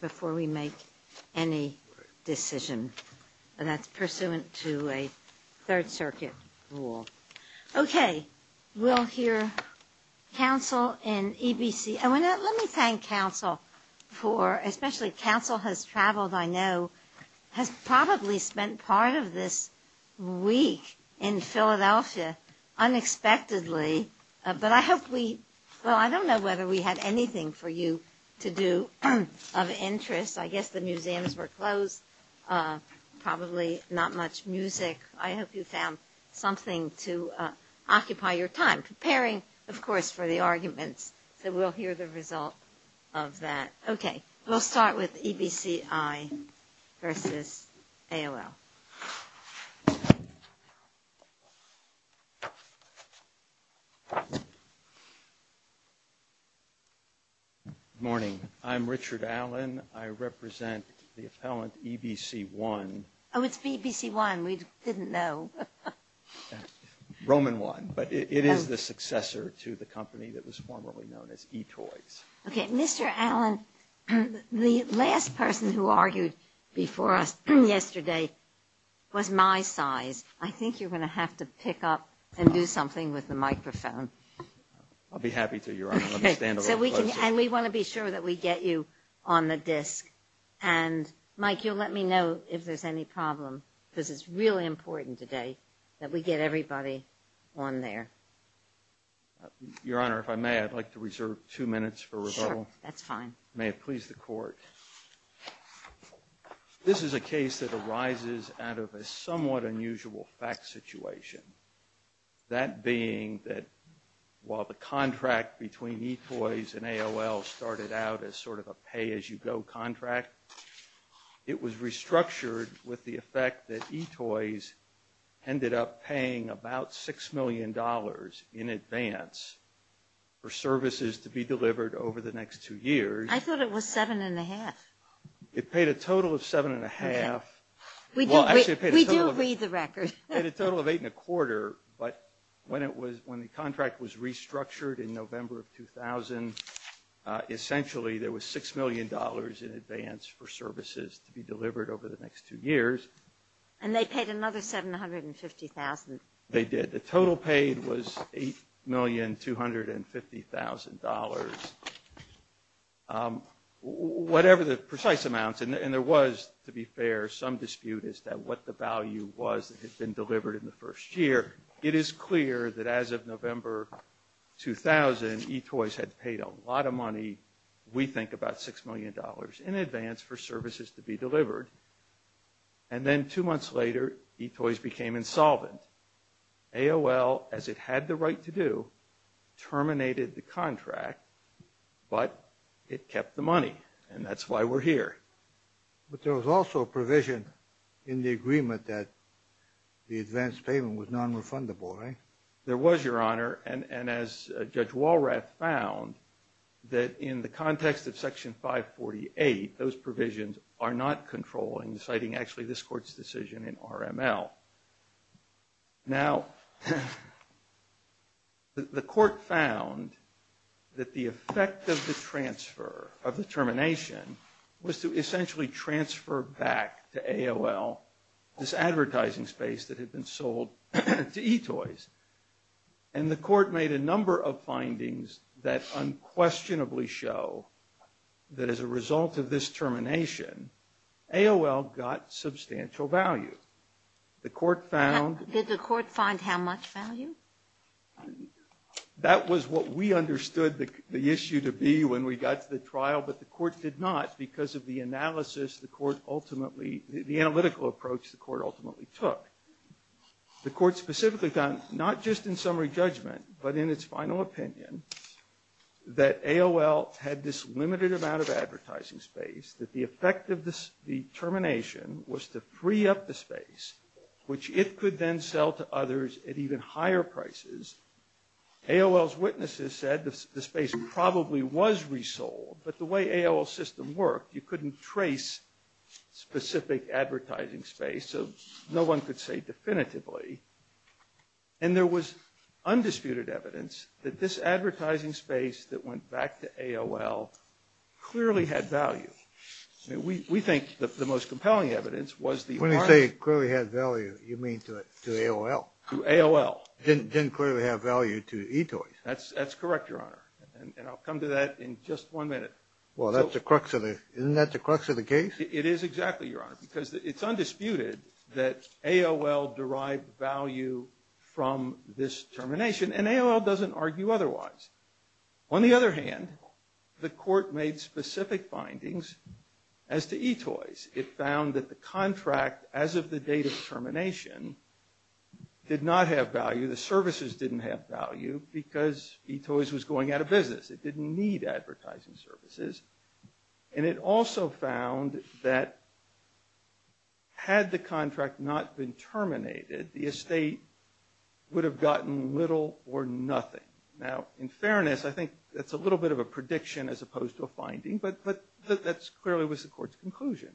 before we make any decision and that's pursuant to a Third Circuit rule. Okay we'll hear counsel in EBC and when that let me thank counsel for especially counsel has traveled I know has probably spent part of this week in Philadelphia unexpectedly but I hope we well I don't know whether we had anything for you to do of interest I guess the museums were closed probably not much music I hope you found something to occupy your time preparing of course for the arguments so we'll hear the result of that okay we'll start with EBCI versus AOL morning I'm Richard Allen I represent the appellant EBC one oh it's BBC one we didn't know Roman one but it is the successor to the company that was formerly known as eToys okay mr. Allen the last person who argued before us yesterday was my size I think you're going to have to pick up and do something with the microphone I'll be happy to your okay so we can and we want to be sure that we get you on the disc and Mike you'll let me know if there's any problem because it's really important today that we get everybody on there your honor if I may I'd like to reserve two minutes for rebuttal that's this is a case that arises out of a somewhat unusual fact situation that being that while the contract between eToys and AOL started out as sort of a pay-as-you-go contract it was restructured with the effect that eToys ended up paying about six million dollars in advance for services to be it paid a total of seven and a half we do read the record at a total of eight and a quarter but when it was when the contract was restructured in November of 2000 essentially there was six million dollars in advance for services to be delivered over the next two years and they paid another seven hundred and fifty thousand they did the total paid was eight million two hundred and fifty thousand dollars whatever the precise amounts and there was to be fair some dispute is that what the value was that had been delivered in the first year it is clear that as of November 2000 eToys had paid a lot of money we think about six million dollars in advance for services to be delivered and then two months later eToys became insolvent AOL as it had the right to do terminated the contract but it kept the money and that's why we're here but there was also a provision in the agreement that the advance payment was non-refundable right there was your honor and and as Judge Walrath found that in the context of section 548 those provisions are not controlling deciding actually this court's decision in RML now the court found that the effect of the transfer of the termination was to essentially transfer back to AOL this advertising space that had been sold to eToys and the court made a number of findings that unquestionably show that as a result of this termination AOL got substantial value the court found did the court find how much value that was what we understood the issue to be when we got to the trial but the court did not because of the analysis the court ultimately the analytical approach the court ultimately took the court specifically found not just in summary judgment but in its final opinion that AOL had this limited amount of to free up the space which it could then sell to others at even higher prices AOL's witnesses said the space probably was resold but the way AOL system worked you couldn't trace specific advertising space so no one could say definitively and there was undisputed evidence that this advertising space that went back to AOL clearly had value we think that the most When you say clearly had value you mean to AOL? To AOL. Didn't clearly have value to eToys? That's that's correct your honor and I'll come to that in just one minute well that's the crux of it isn't that the crux of the case it is exactly your honor because it's undisputed that AOL derived value from this termination and AOL doesn't argue otherwise on the other hand the court made specific findings as to eToys it found that the contract as of the date of termination did not have value the services didn't have value because eToys was going out of business it didn't need advertising services and it also found that had the contract not been terminated the estate would have gotten little or nothing now in fairness I think that's a little bit of a prediction as opposed to a finding but but that's clearly was the court's conclusion.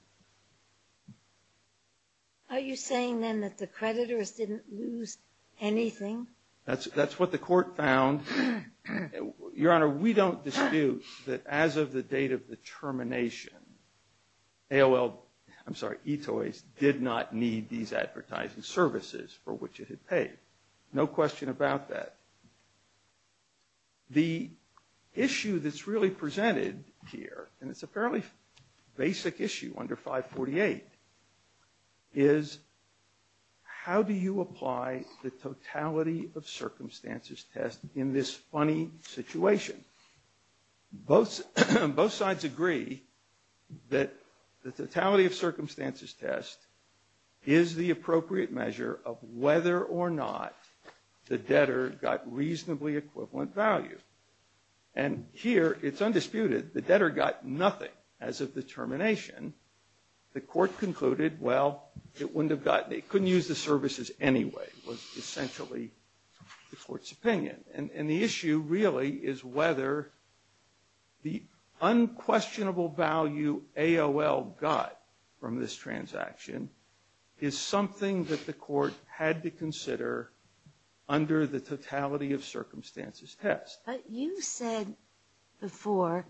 Are you saying then that the creditors didn't lose anything? That's that's what the court found your honor we don't dispute that as of the date of the termination AOL I'm sorry eToys did not need these advertising services for which it had paid no question about that the issue that's really presented here and it's apparently basic issue under 548 is how do you apply the totality of circumstances test in this funny situation both both sides agree that the totality of circumstances test is the equivalent value and here it's undisputed the debtor got nothing as of the termination the court concluded well it wouldn't have gotten it couldn't use the services anyway was essentially the court's opinion and the issue really is whether the unquestionable value AOL got from this transaction is something that the court had to consider under the totality of circumstances test but you said before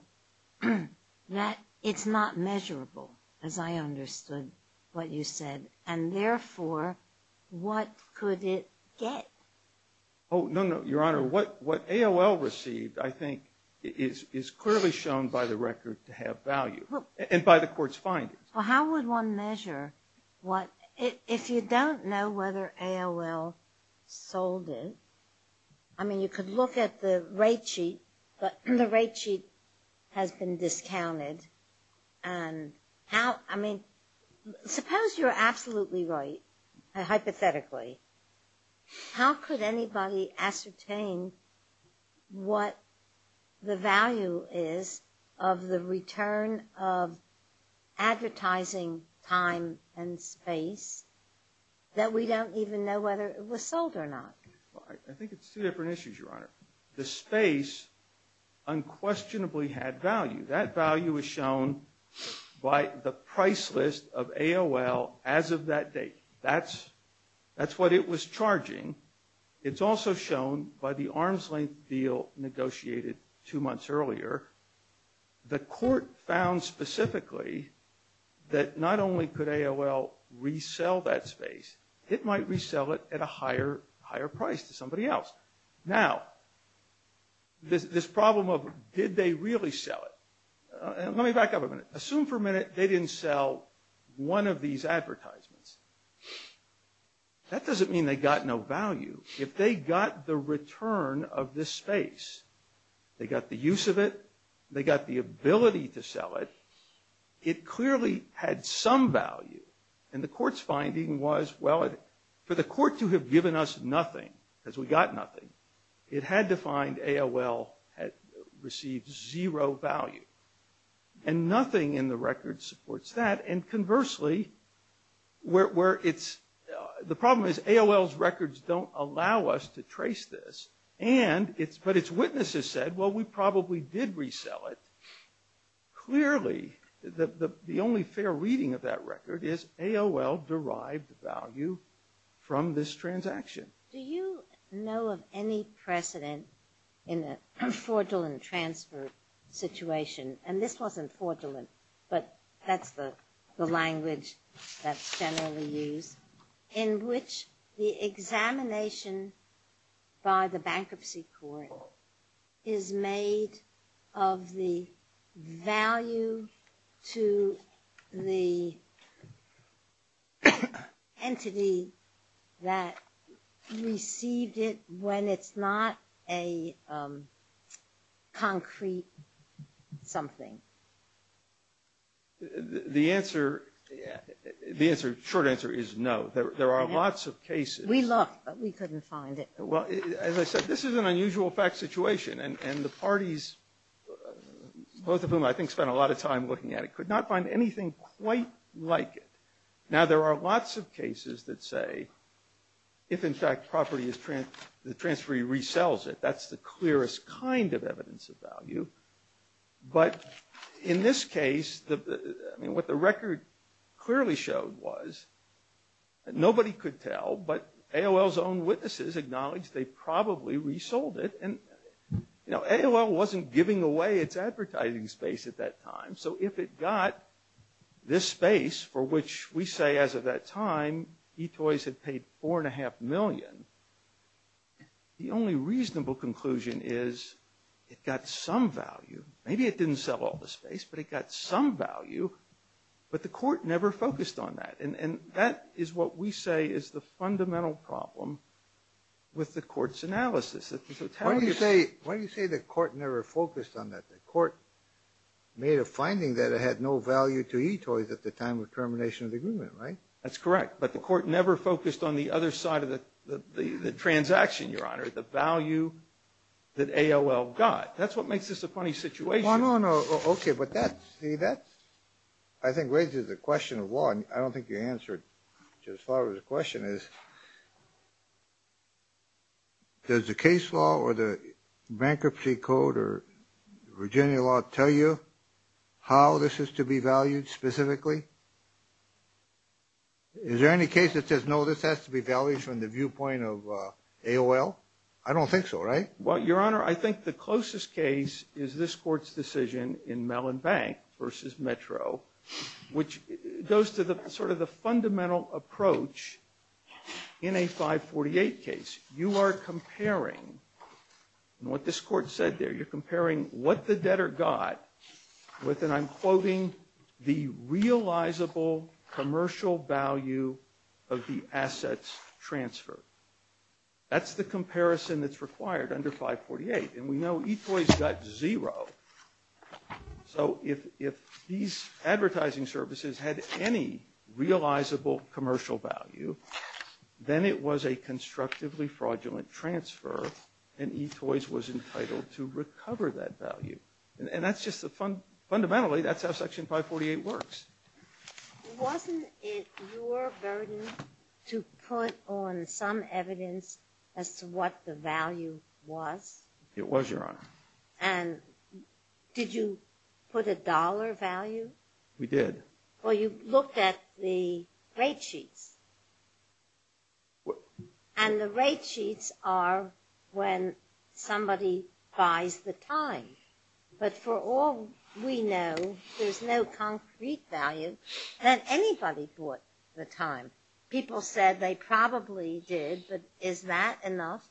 that it's not measurable as I understood what you said and therefore what could it get oh no no your honor what what AOL received I think is is clearly shown by the record to have value and by the court's findings well how would one measure what if you don't know whether AOL sold it I mean you could look at the rate sheet but the rate sheet has been discounted and how I mean suppose you're absolutely right hypothetically how could anybody ascertain what the value is of the return of advertising time and space that we don't even know whether it was sold or not the space unquestionably had value that value is shown by the price list of AOL as of that date that's what it was charging it's also shown by the arm's-length deal negotiated two months earlier the court found specifically that not only could AOL resell that space it might resell it at a higher higher price to somebody else now this problem of did they really sell it let me back up a minute assume for a that doesn't mean they got no value if they got the return of this space they got the use of it they got the ability to sell it it clearly had some value and the court's finding was well for the court to have given us nothing as we got nothing it had to find AOL had received zero value and nothing in the record supports that and conversely where it's the problem is AOL's records don't allow us to trace this and it's but its witnesses said well we probably did resell it clearly that the only fair reading of that record is AOL derived value from this transaction. Do you know of any precedent in a fraudulent transfer situation and this wasn't fraudulent but that's the language that's generally used in which the examination by the bankruptcy court is made of the value to the entity that received it when it's not a concrete something. The answer the answer short answer is no there are lots of cases we couldn't find it. Well as I said this is an unusual fact situation and and the parties both of whom I think spent a lot of time looking at it could not find anything quite like it now there are lots of cases that say if in fact property is trans the transferee resells it that's the clearest kind of evidence of value but in this case the I mean what the record clearly showed was nobody could tell but AOL's own witnesses acknowledged they probably resold it and you know AOL wasn't giving away its advertising space at that time so if it got this space for which we say as of that time eToys had paid four and a half million the only reasonable conclusion is it got some value maybe it didn't sell all the space but it got some value but the court never focused on that and and that is what we say is the fundamental problem with the court's analysis. Why do you say why do you say the court never focused on that the court made a finding that it had no value to eToys at the time of termination of the agreement right? That's correct but the court never focused on the other side of the the transaction your honor the value that AOL got that's what makes this a funny situation. No no no okay but that see that I think raises the question of law and I don't think you answered just as far as the question is does the case law or the bankruptcy code or Virginia law tell you how this is to be valued specifically? Is there any case that says no this has to be valued from the viewpoint of AOL? I don't think so right? Well your honor I think the closest case is this court's decision in Mellon Bank versus Metro which goes to the sort of the fundamental approach in a 548 case. You are comparing what this court said there you're comparing what the debtor got with and I'm quoting the realizable commercial value of the assets transfer. That's the comparison that's required under 548 and we know eToys got zero so if these advertising services had any realizable commercial value then it was a constructively fraudulent transfer and eToys was entitled to recover that value and that's just the fundamentally that's how section 548 works. Wasn't it your burden to put on some evidence as to what the value was? It was your honor. And did you put a dollar value? We did. Well you looked at the rate sheets and the rate sheets are when somebody buys the time but for all we know there's no concrete value that anybody bought the time. People said they probably did but is that enough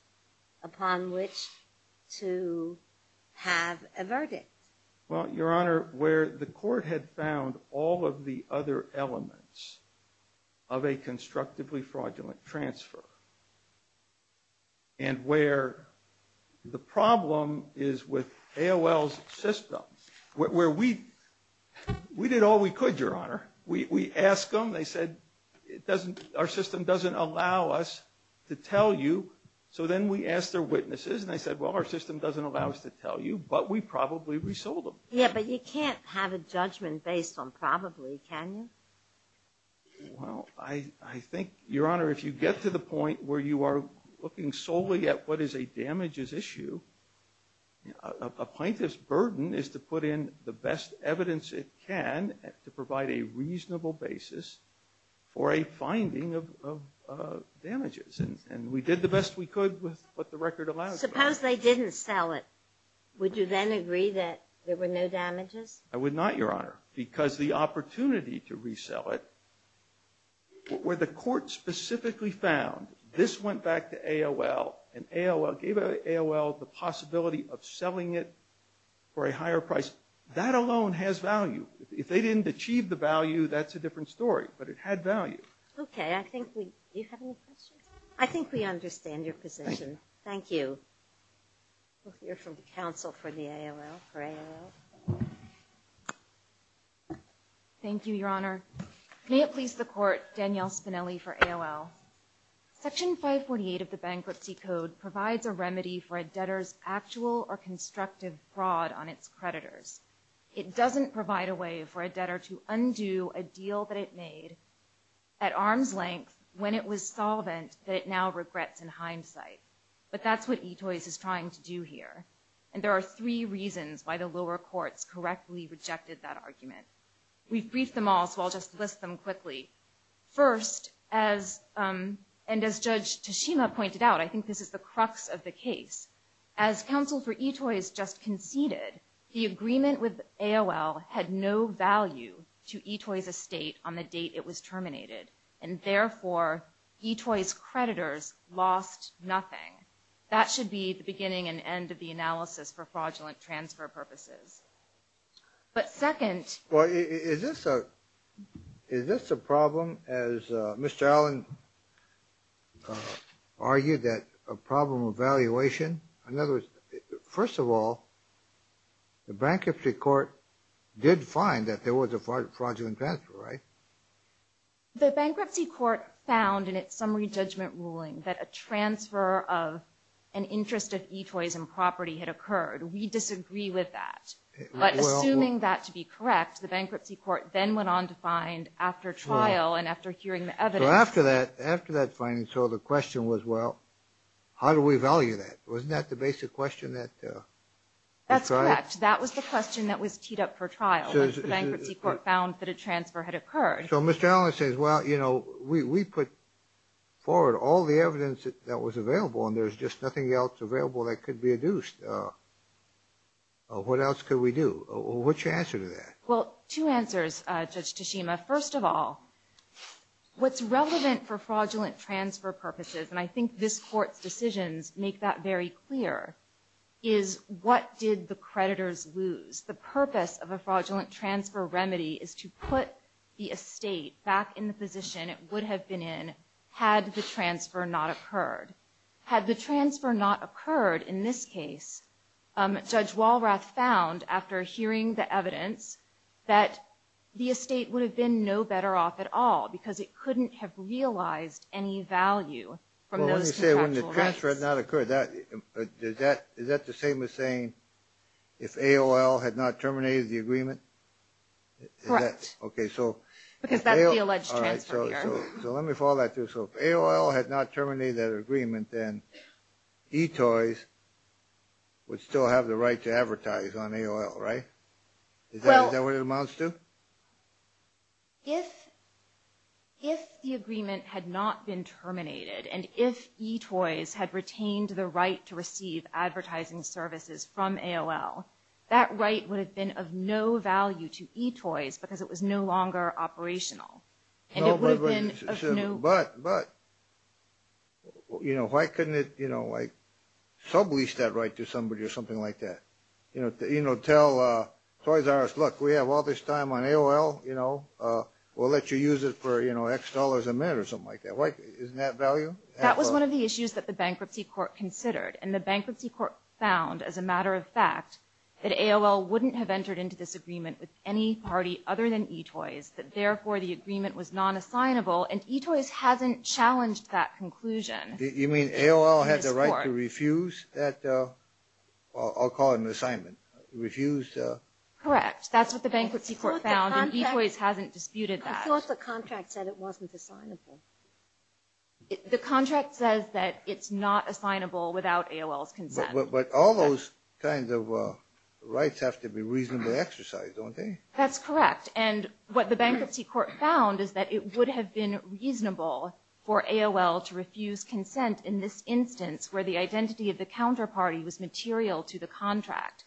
upon which to have a verdict? Well your honor where the court had found all of the other elements of a constructively fraudulent transfer and where the problem is with AOL's system where we did all we could your honor we asked them they said our system doesn't allow us to tell you so then we asked their witnesses and they said well our system doesn't allow us to tell you but we probably resold them. Yeah but you can't have a judgment based on probably can you? Well I think your honor if you get to the point where you are looking solely at what I think this burden is to put in the best evidence it can to provide a reasonable basis for a finding of damages and we did the best we could with what the record allows us. Suppose they didn't sell it would you then agree that there were no damages? I would not your honor because the opportunity to resell it where the court specifically found this went back to AOL and AOL gave AOL the possibility of selling it for a higher price that alone has value if they didn't achieve the value that's a different story but it had value. Okay I think we do you have any questions? I think we understand your position. Thank you. We'll hear from the council for the AOL. Thank you your honor. May it please the court Danielle Spinelli for AOL. Section 548 of the bankruptcy code provides a remedy for a debtor's actual or constructive fraud on its creditors. It doesn't provide a way for a debtor to undo a deal that it made at arm's length when it was solvent that it now regrets in hindsight but that's what eToys is trying to do here and there are three reasons why the lower courts correctly rejected that argument. We've briefed them all so I'll just list them quickly. First as and as Judge Tashima pointed out I think this is the crux of the case as counsel for eToys just conceded the agreement with AOL had no value to eToys estate on the date it was terminated and therefore eToys creditors lost nothing. That should be the beginning and end of the analysis for fraudulent transfer purposes. But second. Well is this a is this a problem as Mr. Allen argued that a problem of valuation in other words first of all the bankruptcy court did find that there was a fraudulent transfer right? The bankruptcy court found in its summary judgment ruling that a transfer of an interest of eToys and property had occurred. We disagree with that but assuming that to be correct the bankruptcy court then went on to find after trial and after hearing the evidence. So after that after that finding so the question was well how do we value that? Wasn't that the basic question that. That's correct. That was the question that was teed up for trial. The bankruptcy court found that a transfer had occurred. So Mr. Allen says well you know we put forward all the evidence that was available and there's just nothing else available that could be adduced. What else could we do? What's your answer to that? Well two answers Judge Tashima. First of all what's relevant for fraudulent transfer purposes and I think this court's decisions make that very clear is what did the creditors lose. The purpose of a fraudulent transfer remedy is to put the estate back in the position it would have been in had the transfer not occurred. Had the transfer not occurred in this case Judge Walrath found after hearing the evidence that the estate would have been no better off at all because it couldn't have realized any value from those contractual rights. Well let me say when the transfer had not occurred is that the same as saying if AOL had not terminated the agreement? Correct. Okay so. Because that's the alleged transfer here. So let me follow that through. So if AOL had not terminated that agreement then eToys would still have the right to advertise on AOL right? Is that what it amounts to? If the agreement had not been terminated and if eToys had retained the right to receive advertising services from AOL that right would have been of no value to eToys because it was no longer operational. And it would have been of no. But you know why couldn't it you know like sublease that right to somebody or something like that? You know tell Toys R Us look we have all this time on AOL you know we'll let you use it for you know X dollars a minute or something like that. Isn't that value? That was one of the issues that the bankruptcy court considered and the bankruptcy court found as a matter of fact that AOL wouldn't have entered into this agreement with any non-assignable and eToys hasn't challenged that conclusion. You mean AOL had the right to refuse that? I'll call it an assignment. Refused. Correct. That's what the bankruptcy court found and eToys hasn't disputed that. I thought the contract said it wasn't assignable. The contract says that it's not assignable without AOL's consent. But all those kinds of rights have to be reasonably exercised don't they? That's correct. And what the bankruptcy court found is that it would have been reasonable for AOL to refuse consent in this instance where the identity of the counterparty was material to the contract.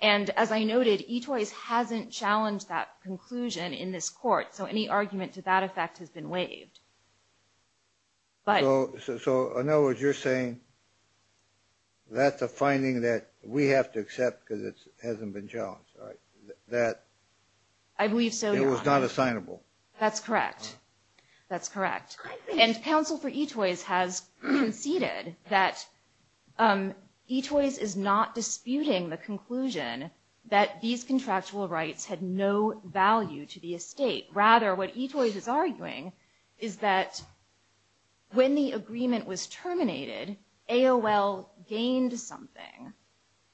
And as I noted eToys hasn't challenged that conclusion in this court. So any argument to that effect has been waived. So in other words you're saying that's a finding that we have to accept because it hasn't been challenged right? I believe so Your Honor. It was not assignable. That's correct. That's correct. And counsel for eToys has conceded that eToys is not disputing the conclusion that these contractual rights had no value to the estate. Rather what eToys is arguing is that when the agreement was terminated AOL gained something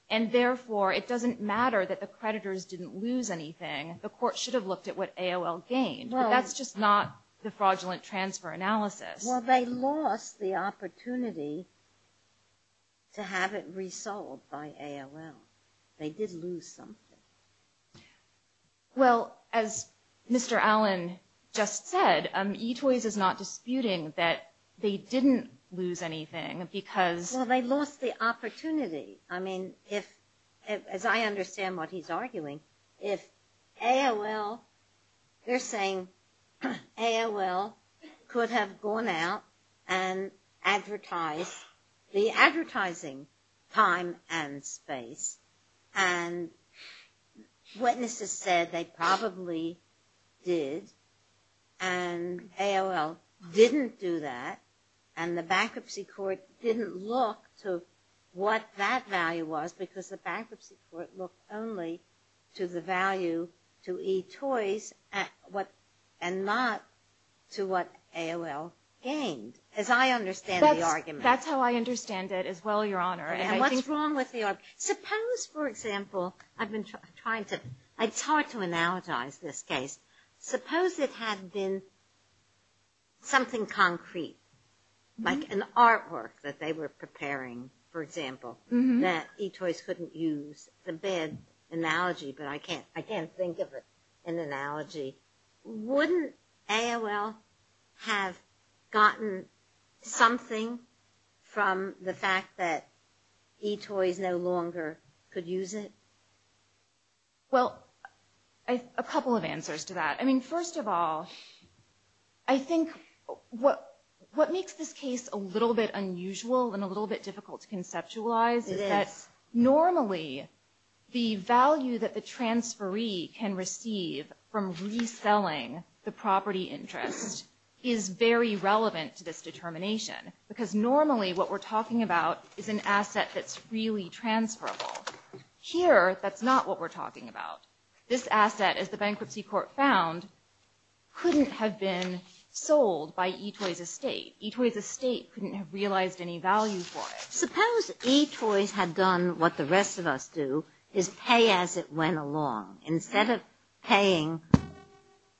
and therefore it doesn't matter that the creditors didn't lose anything. The court should have looked at what AOL gained. But that's just not the fraudulent transfer analysis. Well they lost the opportunity to have it resolved by AOL. They did lose something. Well as Mr. Allen just said eToys is not disputing that they didn't lose anything because Well they lost the opportunity. I mean if as I understand what he's arguing if AOL they're saying AOL could have gone out and advertised the advertising time and space and witnesses said they probably did and AOL didn't do that and the bankruptcy court didn't look to what that value was because the bankruptcy court looked only to the value to eToys and not to what AOL gained. As I understand the argument. That's how I understand it as well Your Honor. And what's wrong with the argument. It's hard to analogize this case. Suppose it had been something concrete like an artwork that they were preparing for example that eToys couldn't use. It's a bad analogy but I can't think of an analogy. Wouldn't AOL have gotten something from the fact that eToys no longer could use it. Well a couple of answers to that. I mean first of all I think what makes this case a little bit unusual and a little bit difficult to conceptualize is that normally the value that the transferee can receive from reselling the property interest is very relevant to this determination because normally what we're talking about is an asset that's really transferable. Here that's not what we're talking about. This asset as the bankruptcy court found couldn't have been sold by eToys estate. eToys estate couldn't have realized any value for it. Suppose eToys had done what the rest of us do is pay as it went along. Instead of paying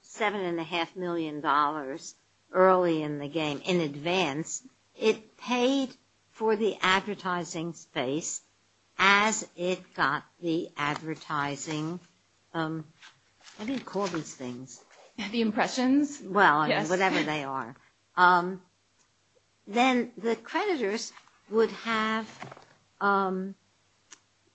seven and a half million dollars early in the game in advance it paid for the advertising space as it got the advertising. What do you call these things? The impressions. Well whatever they are. Then the creditors would have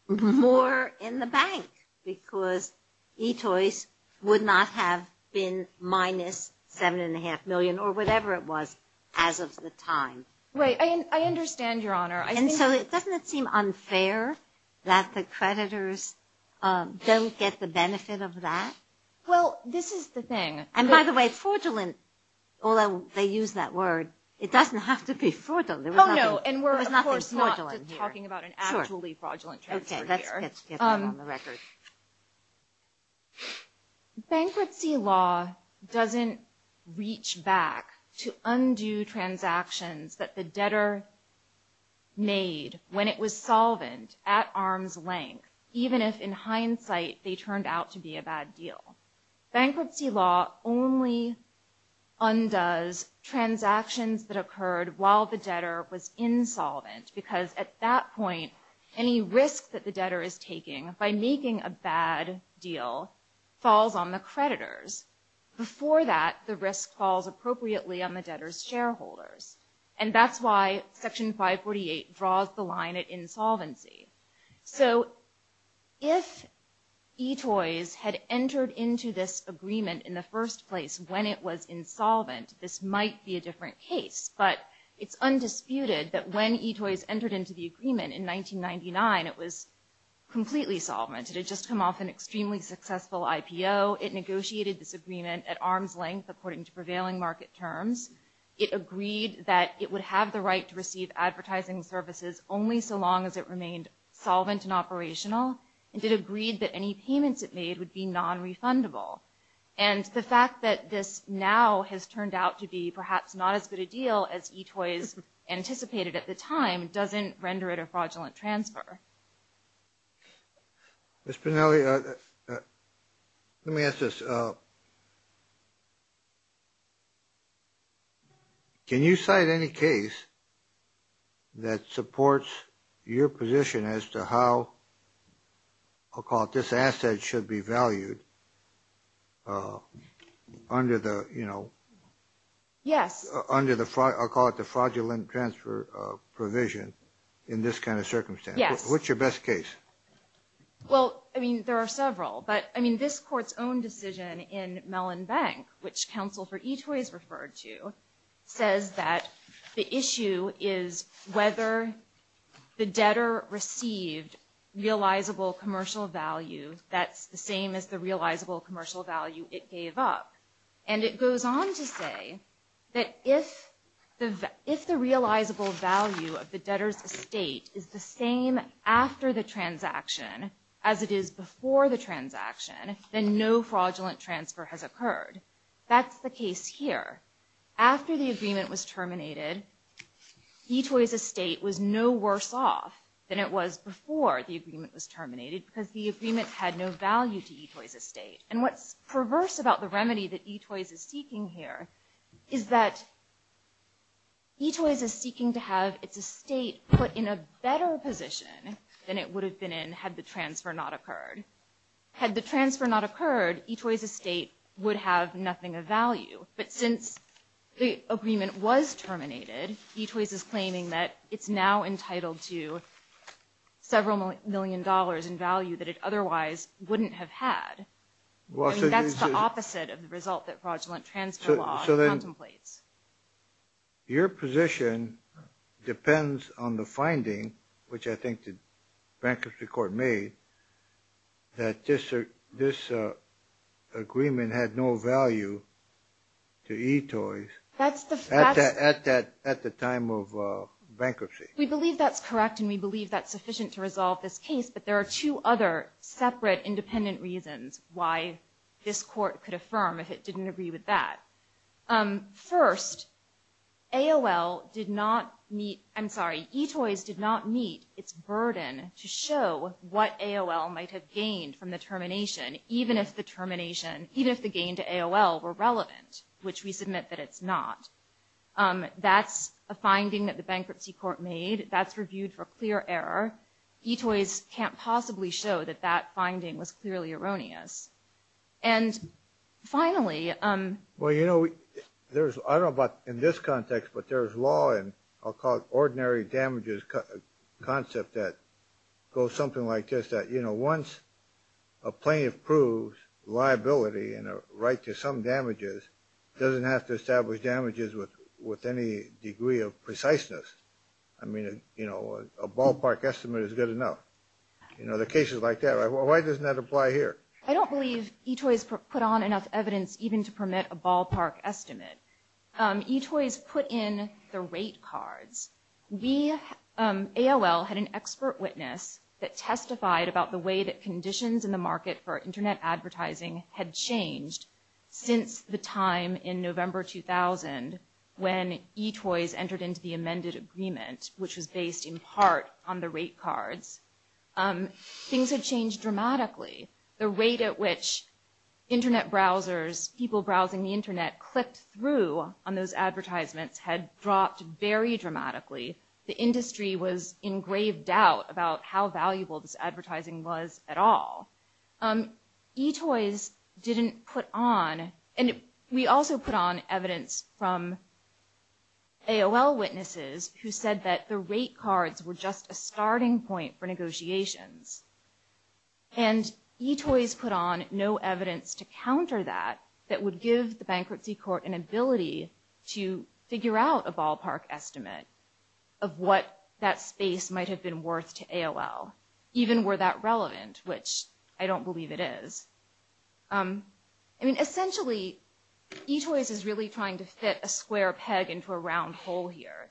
more in the bank because eToys would not have been minus seven and a half million or whatever it was as of the time. I understand your honor. Doesn't it seem unfair that the creditors don't get the benefit of that? Well this is the thing. And by the way fraudulent although they use that word it doesn't have to be fraudulent. Oh no and we're of course not just talking about an actually fraudulent transfer here. Okay let's get that on the record. Bankruptcy law doesn't reach back to undo transactions that the debtor made when it was solvent at arm's length even if in hindsight they turned out to be a bad deal. Bankruptcy law only undoes transactions that occurred while the debtor was insolvent because at that point any risk that the debtor is taking by making a bad deal falls on the creditors. Before that the risk falls appropriately on the debtor's shareholders. And that's why section 548 draws the line at insolvency. So if eToys had entered into this agreement in the first place when it was insolvent this might be a different case. But it's undisputed that when eToys entered into the agreement in 1999 it was completely solvent. It had just come off an extremely successful IPO. It negotiated this agreement at arm's length according to prevailing market terms. It agreed that it would have the right to receive advertising services only so long as it remained solvent and operational. And it agreed that any payments it made would be non-refundable. And the fact that this now has turned out to be perhaps not as good a deal as eToys anticipated at the time doesn't render it a fraudulent transfer. Ms. Pinelli, let me ask this. Can you cite any case that supports your position as to how, I'll call it, this asset should be valued under the, you know... Yes. I'll call it the fraudulent transfer provision in this kind of circumstance. Yes. What's your best case? Well, I mean, there are several. But, I mean, this Court's own decision in Mellon Bank, which counsel for eToys referred to, says that the issue is whether the debtor received realizable commercial value that's the same as the realizable commercial value it gave up. And it goes on to say that if the realizable value of the debtor's estate is the same after the transaction as it is before the transaction, then no fraudulent transfer has occurred. That's the case here. After the agreement was terminated, eToys' estate was no worse off than it was before the agreement was terminated because the agreement had no value to eToys' estate. And what's perverse about the remedy that eToys is seeking here is that eToys is seeking to have its estate put in a better position than it would have been in had the transfer not occurred. Had the transfer not occurred, eToys' estate would have nothing of value. But since the agreement was terminated, eToys is claiming that it's now entitled to several million dollars in value that it otherwise wouldn't have had. That's the opposite of the result that fraudulent transfer law contemplates. Your position depends on the finding, which I think the bankruptcy court made, that this agreement had no value to eToys at the time of bankruptcy. We believe that's correct and we believe that's sufficient to resolve this case, but there are two other separate independent reasons why this court could affirm if it didn't agree with that. First, eToys did not meet its burden to show what AOL might have gained from the termination, even if the gain to AOL were relevant, which we submit that it's not. That's a finding that the bankruptcy court made. That's reviewed for clear error. eToys can't possibly show that that finding was clearly erroneous. And finally... Well, you know, I don't know about in this context, but there's law and I'll call it ordinary damages concept that goes something like this, that once a plaintiff proves liability and a right to some damages doesn't have to establish damages with any degree of preciseness. I mean, you know, a ballpark estimate is good enough. You know, the case is like that. Why doesn't that apply here? I don't believe eToys put on enough evidence even to permit a ballpark estimate. eToys put in the rate cards. We, AOL, had an expert witness that testified about the way that conditions in the market for Internet advertising had changed since the time in November 2000 when eToys entered into the amended agreement, which was based in part on the rate cards. Things had changed dramatically. The rate at which Internet browsers, people browsing the Internet, clicked through on those advertisements had dropped very dramatically. The industry was in grave doubt about how valuable this advertising was at all. eToys didn't put on, and we also put on evidence from AOL witnesses who said that the rate cards were just a starting point for negotiations. And eToys put on no evidence to counter that that would give the bankruptcy court an ability to figure out a ballpark estimate of what that space might have been worth to AOL, even were that relevant, which I don't believe it is. I mean, essentially, eToys is really trying to fit a square peg into a round hole here.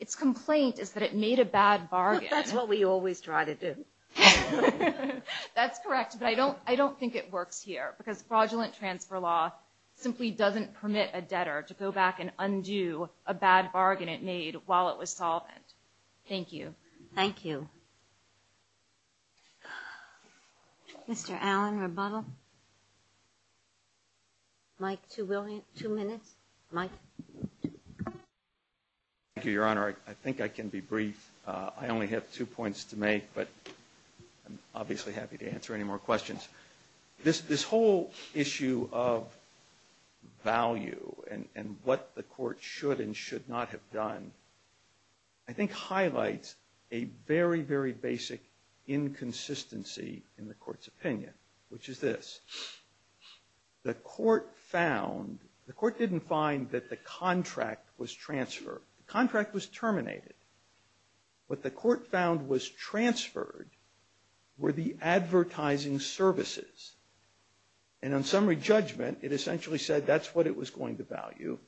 Its complaint is that it made a bad bargain. That's what we always try to do. That's correct, but I don't think it works here, because fraudulent transfer law simply doesn't permit a debtor to go back and undo a bad bargain it made while it was solvent. Thank you. Thank you. Mr. Allen, rebuttal. Mike, two minutes. Mike. Thank you, Your Honor. I think I can be brief. I only have two points to make, but I'm obviously happy to answer any more questions. This whole issue of value and what the court should and should not have done, I think highlights a very, very basic inconsistency in the court's opinion, which is this. The court didn't find that the contract was transferred. The contract was terminated. What the court found was transferred were the advertising services. And on summary judgment, it essentially said that's what it was going to value,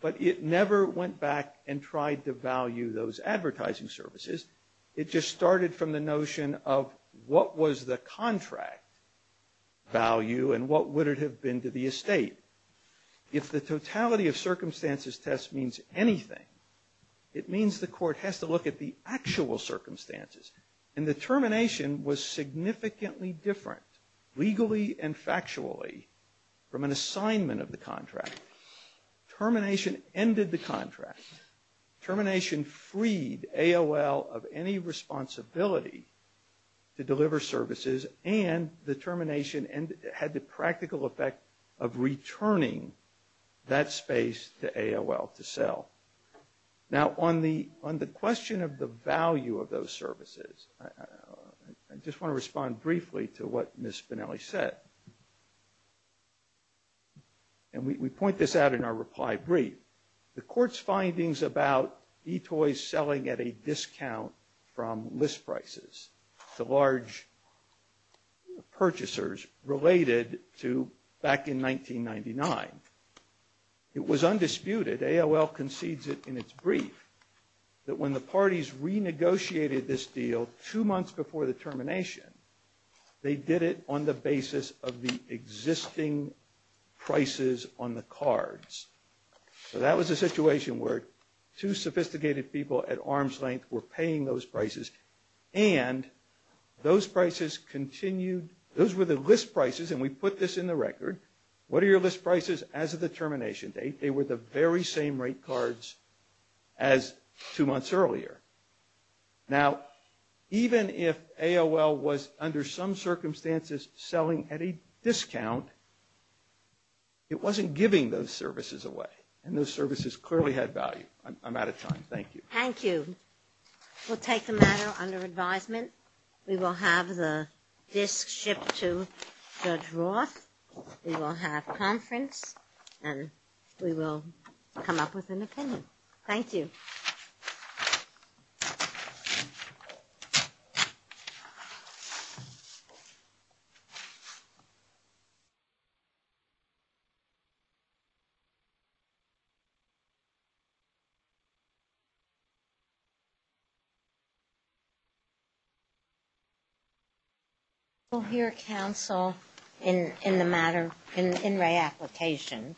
but it never went back and tried to value those advertising services. It just started from the notion of what was the contract value and what would it have been to the estate. If the totality of circumstances test means anything, it means the court has to look at the actual circumstances. And the termination was significantly different legally and factually from an assignment of the contract. Termination ended the contract. Termination freed AOL of any responsibility to deliver services, and the termination had the practical effect of returning that space to AOL to sell. Now, on the question of the value of those services, I just want to respond briefly to what Ms. Spinelli said. And we point this out in our reply brief. The court's findings about eToys selling at a discount from list prices to large purchasers related to back in 1999. It was undisputed, AOL concedes it in its brief, that when the parties renegotiated this deal two months before the termination, they did it on the basis of the existing prices on the cards. So that was a situation where two sophisticated people at arm's length were paying those prices, and those prices continued. Those were the list prices, and we put this in the record. What are your list prices as of the termination date? They were the very same rate cards as two months earlier. Now, even if AOL was under some circumstances selling at a discount, it wasn't giving those services away. And those services clearly had value. I'm out of time. Thank you. Thank you. We'll take the matter under advisement. We will have the disk shipped to Judge Roth. We will have conference, and we will come up with an opinion. Thank you. Thank you. Thank you. Thank you. Thank you. Thank you. Thank you. Thank you. We'll hear counsel in the matter, in re-application.